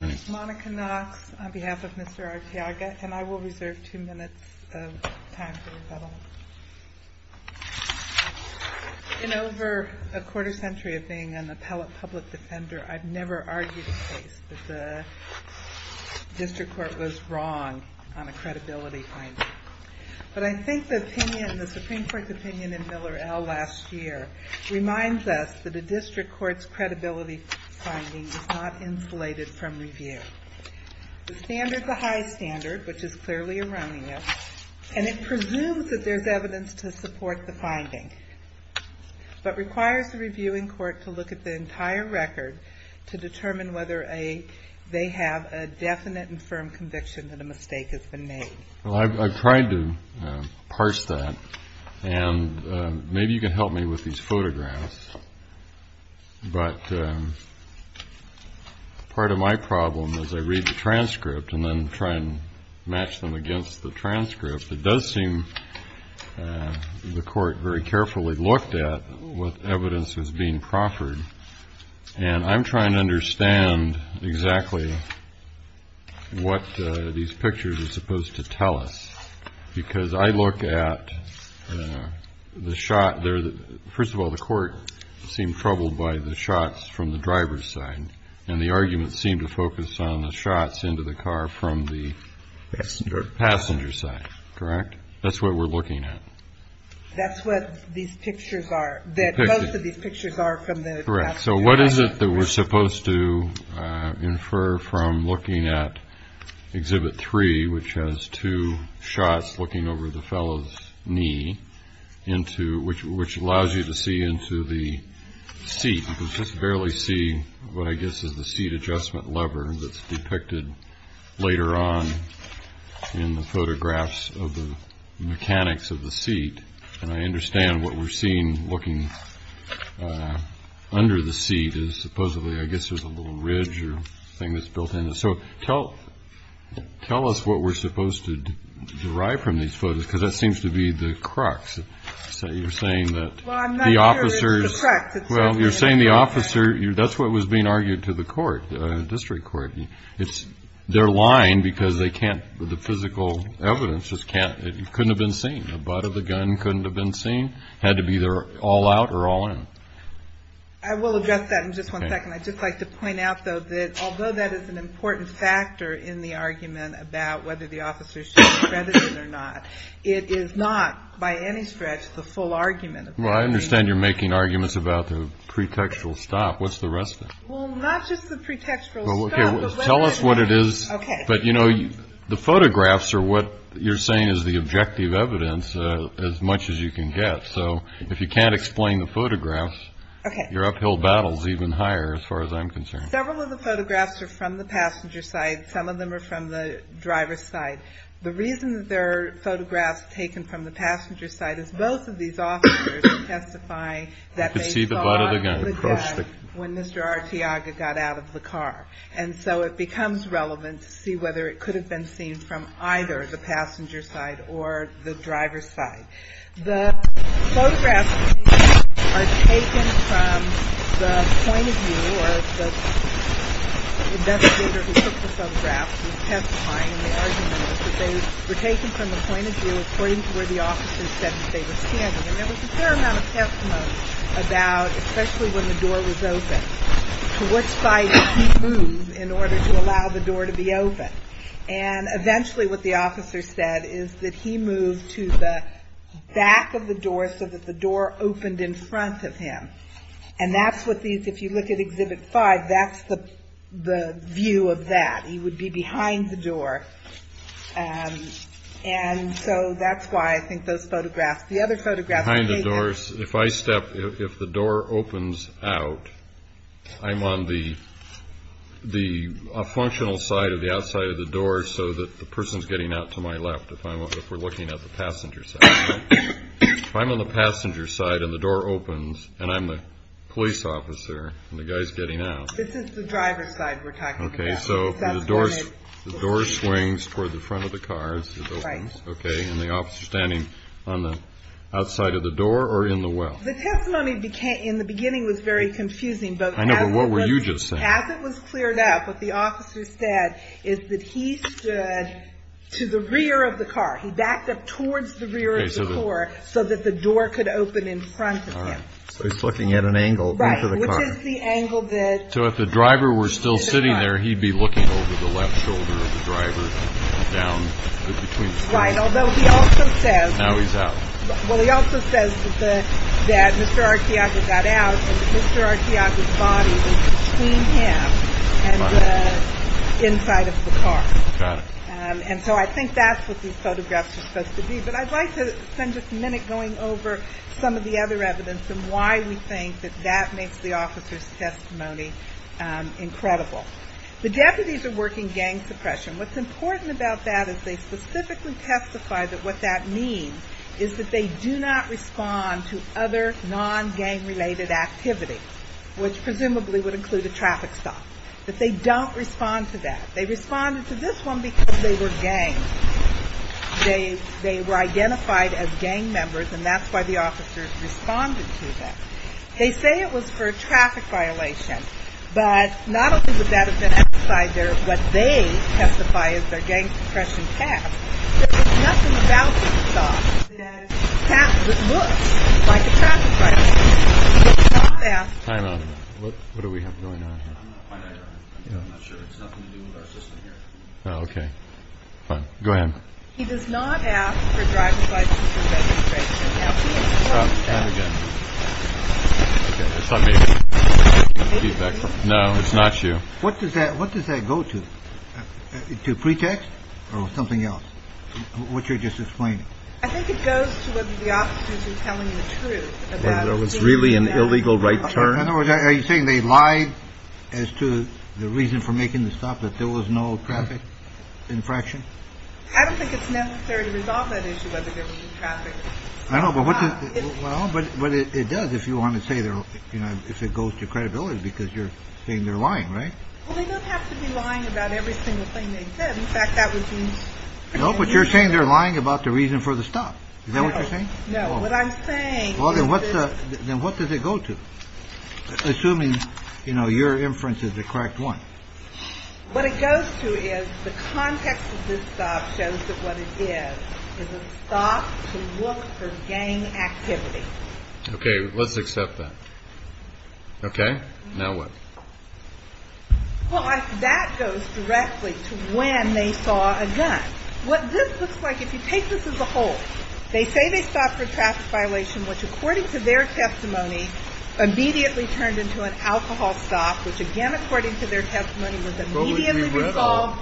In over a quarter century of being an appellate public defender, I have never argued a case that the district court was wrong on a credibility finding. But I think the Supreme Court's opinion in Miller L. last year reminds us that a district court's credibility finding is not insulated from review. The standard's a high standard, which is clearly erroneous, and it presumes that there's evidence to support the finding, but requires the reviewing court to look at the entire record to determine whether they have a definite and firm conviction that a mistake has been made. I've tried to parse that, and maybe you can help me with these photographs, but part of my problem is I read the transcript and then try and match them against the transcript. It does seem the court very carefully looked at what evidence was being proffered, and I'm trying to understand exactly what these pictures are supposed to tell us, because I look at the shot there. First of all, the court seemed troubled by the shots from the driver's side, and the argument seemed to focus on the shots into the car from the passenger side, correct? That's what we're looking at. That's what these pictures are, that most of these pictures are from the passenger side. Correct. So what is it that we're supposed to infer from looking at Exhibit 3, which has two shots looking over the fellow's knee, which allows you to see into the seat? You can just barely see what I guess is the seat adjustment lever that's depicted later on in the photographs of the mechanics of the seat, and I understand what we're seeing looking under the seat is supposedly, I guess, there's a little ridge or thing that's built in. So tell us what we're supposed to derive from these photos, because that seems to be the crux. You're saying that the officers Well, I'm not sure it's the crux. Well, you're saying the officer, that's what was being argued to the court, the district court. They're lying because they can't, the physical evidence just can't, it couldn't have been seen. The butt of the gun couldn't have been seen. It had to be either all out or all in. I will address that in just one second. I'd just like to point out, though, that although that is an important factor in the argument about whether the officers should be credited or not, it is not by any stretch the full argument of that. Well, I understand you're making arguments about the pretextual stop. What's the rest of it? Well, not just the pretextual stop. Tell us what it is. But, you know, the photographs are what you're saying is the objective evidence as much as you can get. So if you can't explain the photographs, your uphill battle is even higher, as far as I'm concerned. Several of the photographs are from the passenger side. Some of them are from the driver's side. The reason that there are photographs taken from the passenger side is both of these officers testify that they saw the gun when Mr. Artiaga got out of the car. And so it becomes relevant to see whether it could have been seen from either the passenger side or the driver's side. The photographs are taken from the point of view or the investigator who took the photographs was testifying in the argument that they were taken from the point of view according to where the officers said that they were standing. And there was a fair amount of testimony about that, especially when the door was open. To what side did he move in order to allow the door to be open? And eventually what the officer said is that he moved to the back of the door so that the door opened in front of him. And that's what these, if you look at Exhibit 5, that's the view of that. He would be behind the door. And so that's why I think those photographs, the other photographs behind the doors, if I step, if the door opens out, I'm on the functional side of the outside of the door so that the person's getting out to my left if we're looking at the passenger side. If I'm on the passenger side and the door opens and I'm the police officer and the guy's getting out. This is the driver's side we're talking about. Okay, so the door swings toward the front of the car. Right. Okay, and the officer's standing on the outside of the door or in the well? The testimony in the beginning was very confusing. I know, but what were you just saying? As it was cleared up, what the officer said is that he stood to the rear of the car. He backed up towards the rear of the car so that the door could open in front of him. So he's looking at an angle into the car. Right, which is the angle that... So if the driver were still sitting there, he'd be looking over the left shoulder of the driver down Right, although he also says... Now he's out. Well, he also says that Mr. Arkeaga got out and Mr. Arkeaga's body was between him and the inside of the car. Got it. And so I think that's what these photographs are supposed to be. But I'd like to spend just a minute going over some of the other evidence and why we think that that makes the officer's testimony incredible. The deputies are working gang suppression. What's important about that is they specifically testify that what that means is that they do not respond to other non-gang-related activities, which presumably would include a traffic stop, that they don't respond to that. They responded to this one because they were ganged. They were identified as gang members, and that's why the officer responded to them. They say it was for a traffic violation, but not only would that have been outside what they testify is their gang suppression task, but there's nothing about this shot that looks like a traffic violation. He does not ask for... Time out. What do we have going on here? I'm not quite sure. I'm not sure. It's nothing to do with our system here. Oh, okay. Fine. Go ahead. He does not ask for a driver's license for registration. Time again. It's not me. No, it's not you. What does that, what does that go to? To pretext or something else? What you're just explaining. I think it goes to whether the officers are telling the truth. Was it really an illegal right turn? In other words, are you saying they lied as to the reason for making the stop, that there was no traffic infraction? I don't think it's necessary to resolve that issue. I don't know. Well, but what it does, if you want to say, you know, if it goes to credibility because you're saying they're lying, right? Well, they don't have to be lying about every single thing they said. In fact, that was... No, but you're saying they're lying about the reason for the stop. Is that what you're saying? No, what I'm saying. Well, then what does it go to? Assuming, you know, your inference is the correct one. What it goes to is the context of this stop shows that what it is is a stop to look for gang activity. Okay, let's accept that. Okay, now what? Well, that goes directly to when they saw a gun. What this looks like, if you take this as a whole, they say they stopped for a traffic violation, which, according to their testimony, immediately turned into an alcohol stop, which, again, according to their testimony, was immediately resolved.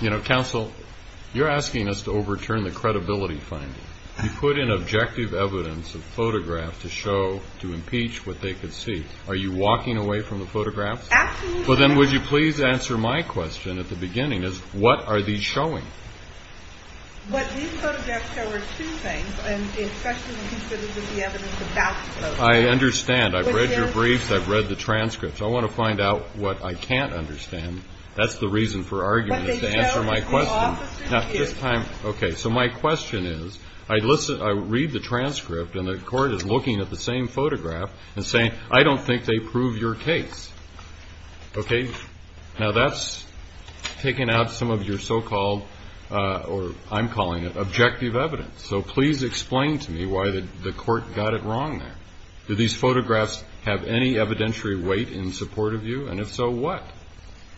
You know, counsel, you're asking us to overturn the credibility finding. You put in objective evidence of photographs to show, to impeach what they could see. Are you walking away from the photographs? Absolutely. Well, then would you please answer my question at the beginning, is what are these showing? What these photographs show are two things, and especially when you said it was the evidence of basketball. I understand. I've read your briefs. I've read the transcripts. I want to find out what I can't understand. That's the reason for arguing is to answer my question. What they show is the officer here. Okay, so my question is, I read the transcript, and the court is looking at the same photograph and saying, I don't think they prove your case. Okay, now that's taken out some of your so-called, or I'm calling it, objective evidence. So please explain to me why the court got it wrong there. Do these photographs have any evidentiary weight in support of you? And if so, what?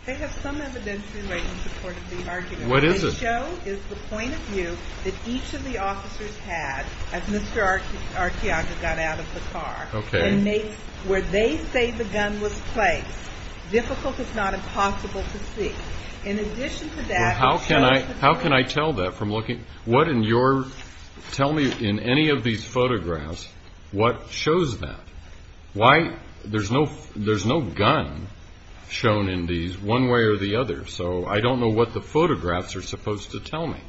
They have some evidentiary weight in support of the argument. What is it? They show is the point of view that each of the officers had as Mr. Archiaga got out of the car. Okay. Where they say the gun was placed. Difficult is not impossible to see. In addition to that, it shows the point of view. How can I tell that from looking? What in your, tell me in any of these photographs, what shows that? Why, there's no gun shown in these one way or the other. So I don't know what the photographs are supposed to tell me.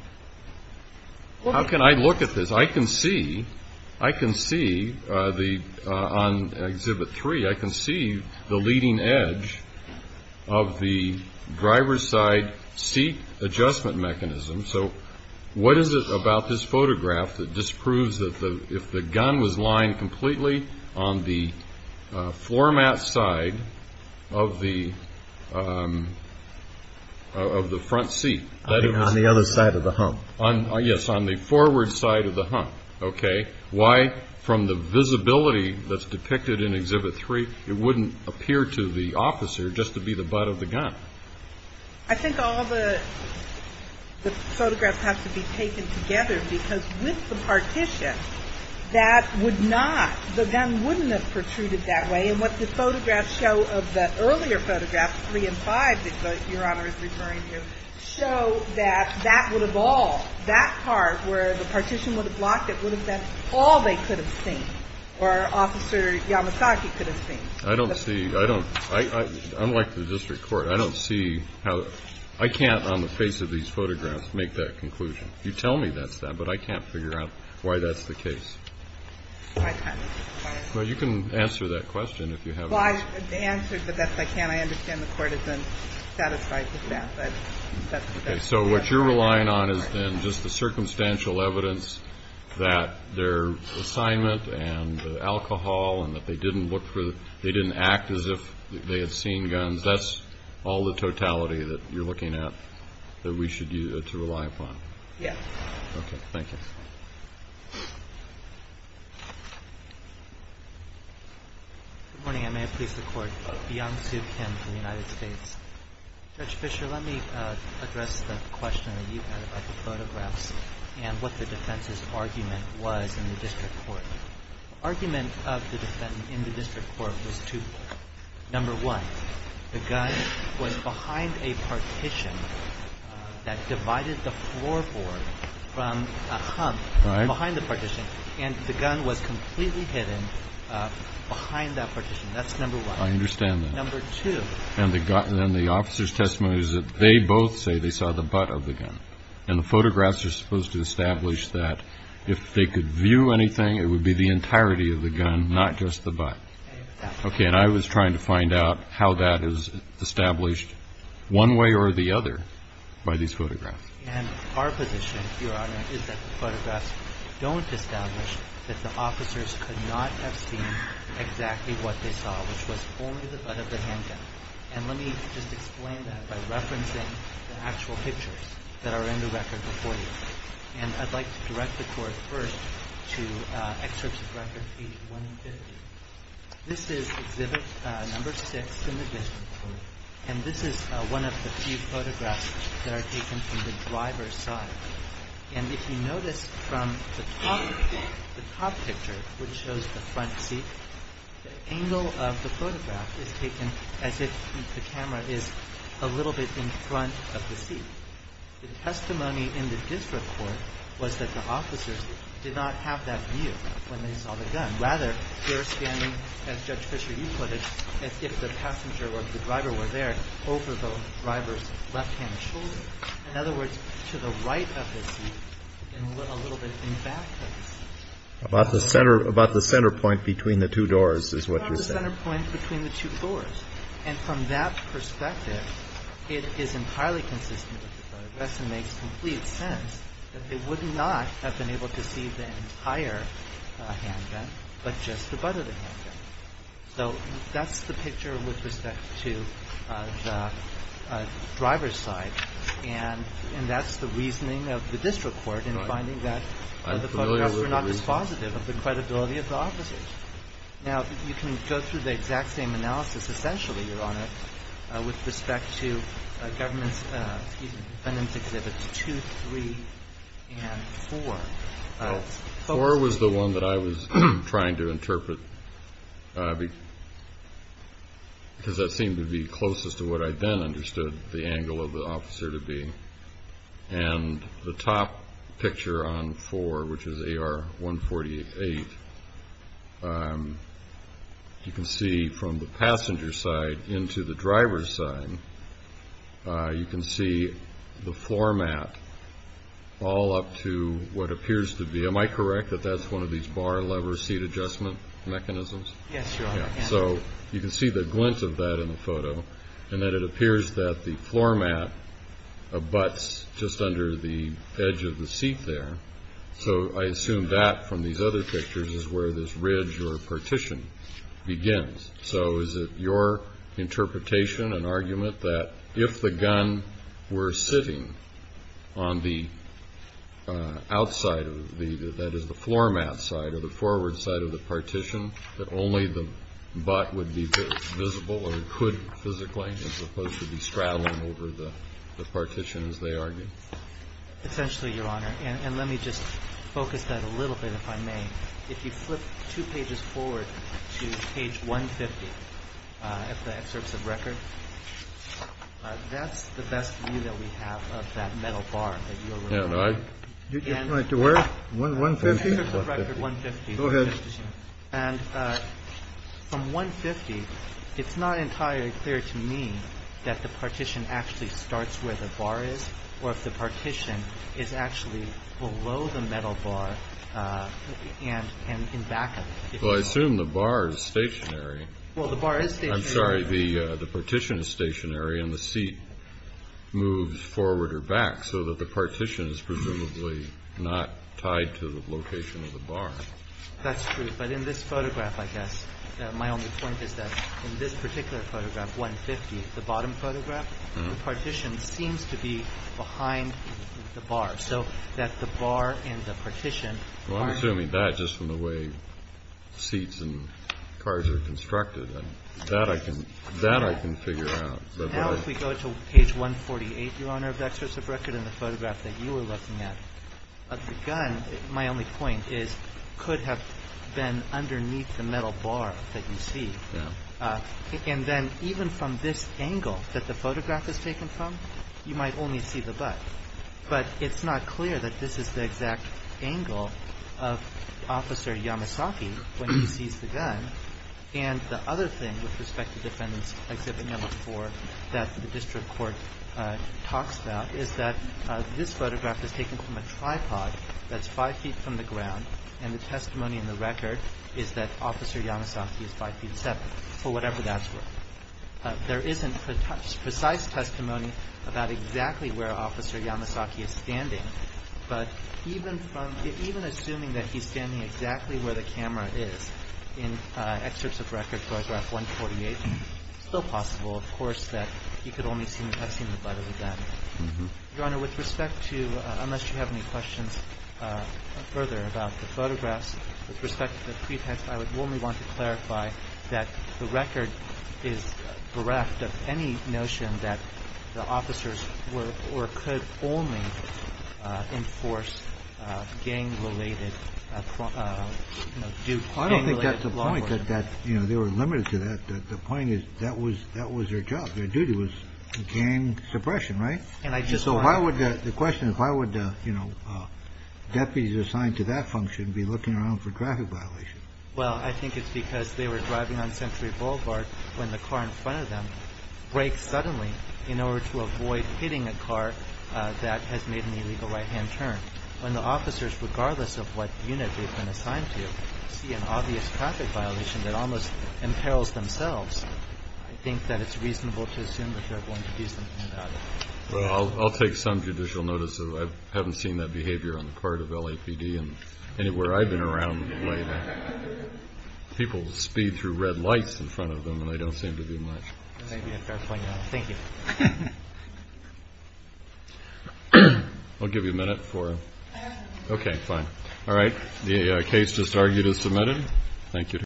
How can I look at this? I can see, I can see on Exhibit 3, I can see the leading edge of the driver's side seat adjustment mechanism. So what is it about this photograph that just proves that if the gun was lying completely on the floor mat side of the front seat. On the other side of the hump. Yes, on the forward side of the hump. Okay. Why from the visibility that's depicted in Exhibit 3, it wouldn't appear to the officer just to be the butt of the gun. I think all the photographs have to be taken together because with the partition, that would not, the gun wouldn't have protruded that way. And what the photographs show of the earlier photographs, 3 and 5, that Your Honor is referring to, show that that would have all, that part where the partition would have blocked it, would have been all they could have seen. Or Officer Yamasaki could have seen. I don't see, I don't, unlike the district court, I don't see how, I can't on the face of these photographs make that conclusion. You tell me that's that, but I can't figure out why that's the case. Well, you can answer that question if you have it. Well, I answered the best I can. I understand the court has been satisfied with that. So what you're relying on is then just the circumstantial evidence that their assignment and the alcohol and that they didn't look for, they didn't act as if they had seen guns. That's all the totality that you're looking at that we should rely upon. Yes. Okay. Thank you. Good morning. I may have pleased the Court. Bian Su Kim from the United States. Judge Fischer, let me address the question that you had about the photographs and what the defense's argument was in the district court. The argument of the defendant in the district court was twofold. Number one, the gun was behind a partition that divided the floorboard from a hump behind the partition, and the gun was completely hidden behind that partition. That's number one. I understand that. Number two. And then the officer's testimony is that they both say they saw the butt of the gun. And the photographs are supposed to establish that if they could view anything, it would be the entirety of the gun, not just the butt. Okay. And I was trying to find out how that is established one way or the other by these photographs. And our position, Your Honor, is that the photographs don't establish that the officers could not have seen exactly what they saw, which was only the butt of the handgun. And let me just explain that by referencing the actual pictures that are in the record before you. And I'd like to direct the Court first to Excerpts of Record, page 150. This is Exhibit No. 6 in the district court, and this is one of the few photographs that are taken from the driver's side. And if you notice from the top picture, which shows the front seat, the angle of the photograph is taken as if the camera is a little bit in front of the seat. The testimony in the district court was that the officers did not have that view when they saw the gun. Rather, they're standing, as Judge Fischer, you put it, as if the passenger or the driver were there over the driver's left-hand shoulder. In other words, to the right of the seat and a little bit in back of the seat. About the center point between the two doors is what you're saying. About the center point between the two doors. And from that perspective, it is entirely consistent with the photographs and makes complete sense that they would not have been able to see the entire handgun, but just the butt of the handgun. So that's the picture with respect to the driver's side. And that's the reasoning of the district court in finding that the photographs were not dispositive of the credibility of the officers. Now, you can go through the exact same analysis, essentially, Your Honor, with respect to the defendant's exhibits 2, 3, and 4. Well, 4 was the one that I was trying to interpret because that seemed to be closest to what I then understood the angle of the officer to be. And the top picture on 4, which is AR-148, you can see from the passenger side into the driver's side, you can see the floor mat all up to what appears to be, am I correct that that's one of these bar lever seat adjustment mechanisms? Yes, Your Honor. So you can see the glint of that in the photo, and that it appears that the floor mat abuts just under the edge of the seat there. So I assume that from these other pictures is where this ridge or partition begins. So is it your interpretation and argument that if the gun were sitting on the outside, that is the floor mat side or the forward side of the partition, that only the butt would be visible or could physically, as opposed to be straddling over the partition, as they argued? Essentially, Your Honor. And let me just focus that a little bit, if I may. If you flip two pages forward to page 150 of the excerpts of record, that's the best view that we have of that metal bar that you're referring to. To where? 150? Go ahead. And from 150, it's not entirely clear to me that the partition actually starts where the bar is or if the partition is actually below the metal bar and in back of it. Well, I assume the bar is stationary. Well, the bar is stationary. I'm sorry. The partition is stationary and the seat moves forward or back so that the partition is presumably not tied to the location of the bar. That's true. But in this photograph, I guess, my only point is that in this particular photograph, 150, the bottom photograph, the partition seems to be behind the bar, so that the bar and the partition aren't. Well, I'm assuming that just from the way seats and cars are constructed. That I can figure out. But now if we go to page 148, Your Honor, of the excerpts of record and the photograph that you were looking at, of the gun, my only point is could have been underneath the metal bar that you see. Yeah. And then even from this angle that the photograph is taken from, you might only see the butt. But it's not clear that this is the exact angle of Officer Yamasaki when he sees the gun. And the other thing with respect to Defendant Exhibit No. 4 that the district court talks about is that this photograph is taken from a tripod that's five feet from the ground, and the testimony in the record is that Officer Yamasaki is five feet seven, or whatever that's worth. There isn't precise testimony about exactly where Officer Yamasaki is standing, but even assuming that he's standing exactly where the camera is in excerpts of record, it's still possible, of course, that he could only have seen the butt of the gun. Your Honor, with respect to, unless you have any questions further about the photographs, with respect to the pretext, I would only want to clarify that the record is bereft of any notion that the officers were or could only enforce gang-related, you know, do gang-related law enforcement. And that, you know, they were limited to that. The point is that was their job. Their duty was gang suppression, right? So why would the question is why would, you know, deputies assigned to that function be looking around for traffic violations? Well, I think it's because they were driving on Century Boulevard when the car in front of them brakes suddenly in order to avoid hitting a car that has made an illegal right-hand turn. When the officers, regardless of what unit they've been assigned to, see an obvious traffic violation that almost imperils themselves, I think that it's reasonable to assume that they're going to do something about it. Well, I'll take some judicial notice. I haven't seen that behavior on the part of LAPD and anywhere I've been around the way that people speed through red lights in front of them, and they don't seem to do much. Thank you. I'll give you a minute for – okay, fine. All right. The case just argued is submitted. Thank you.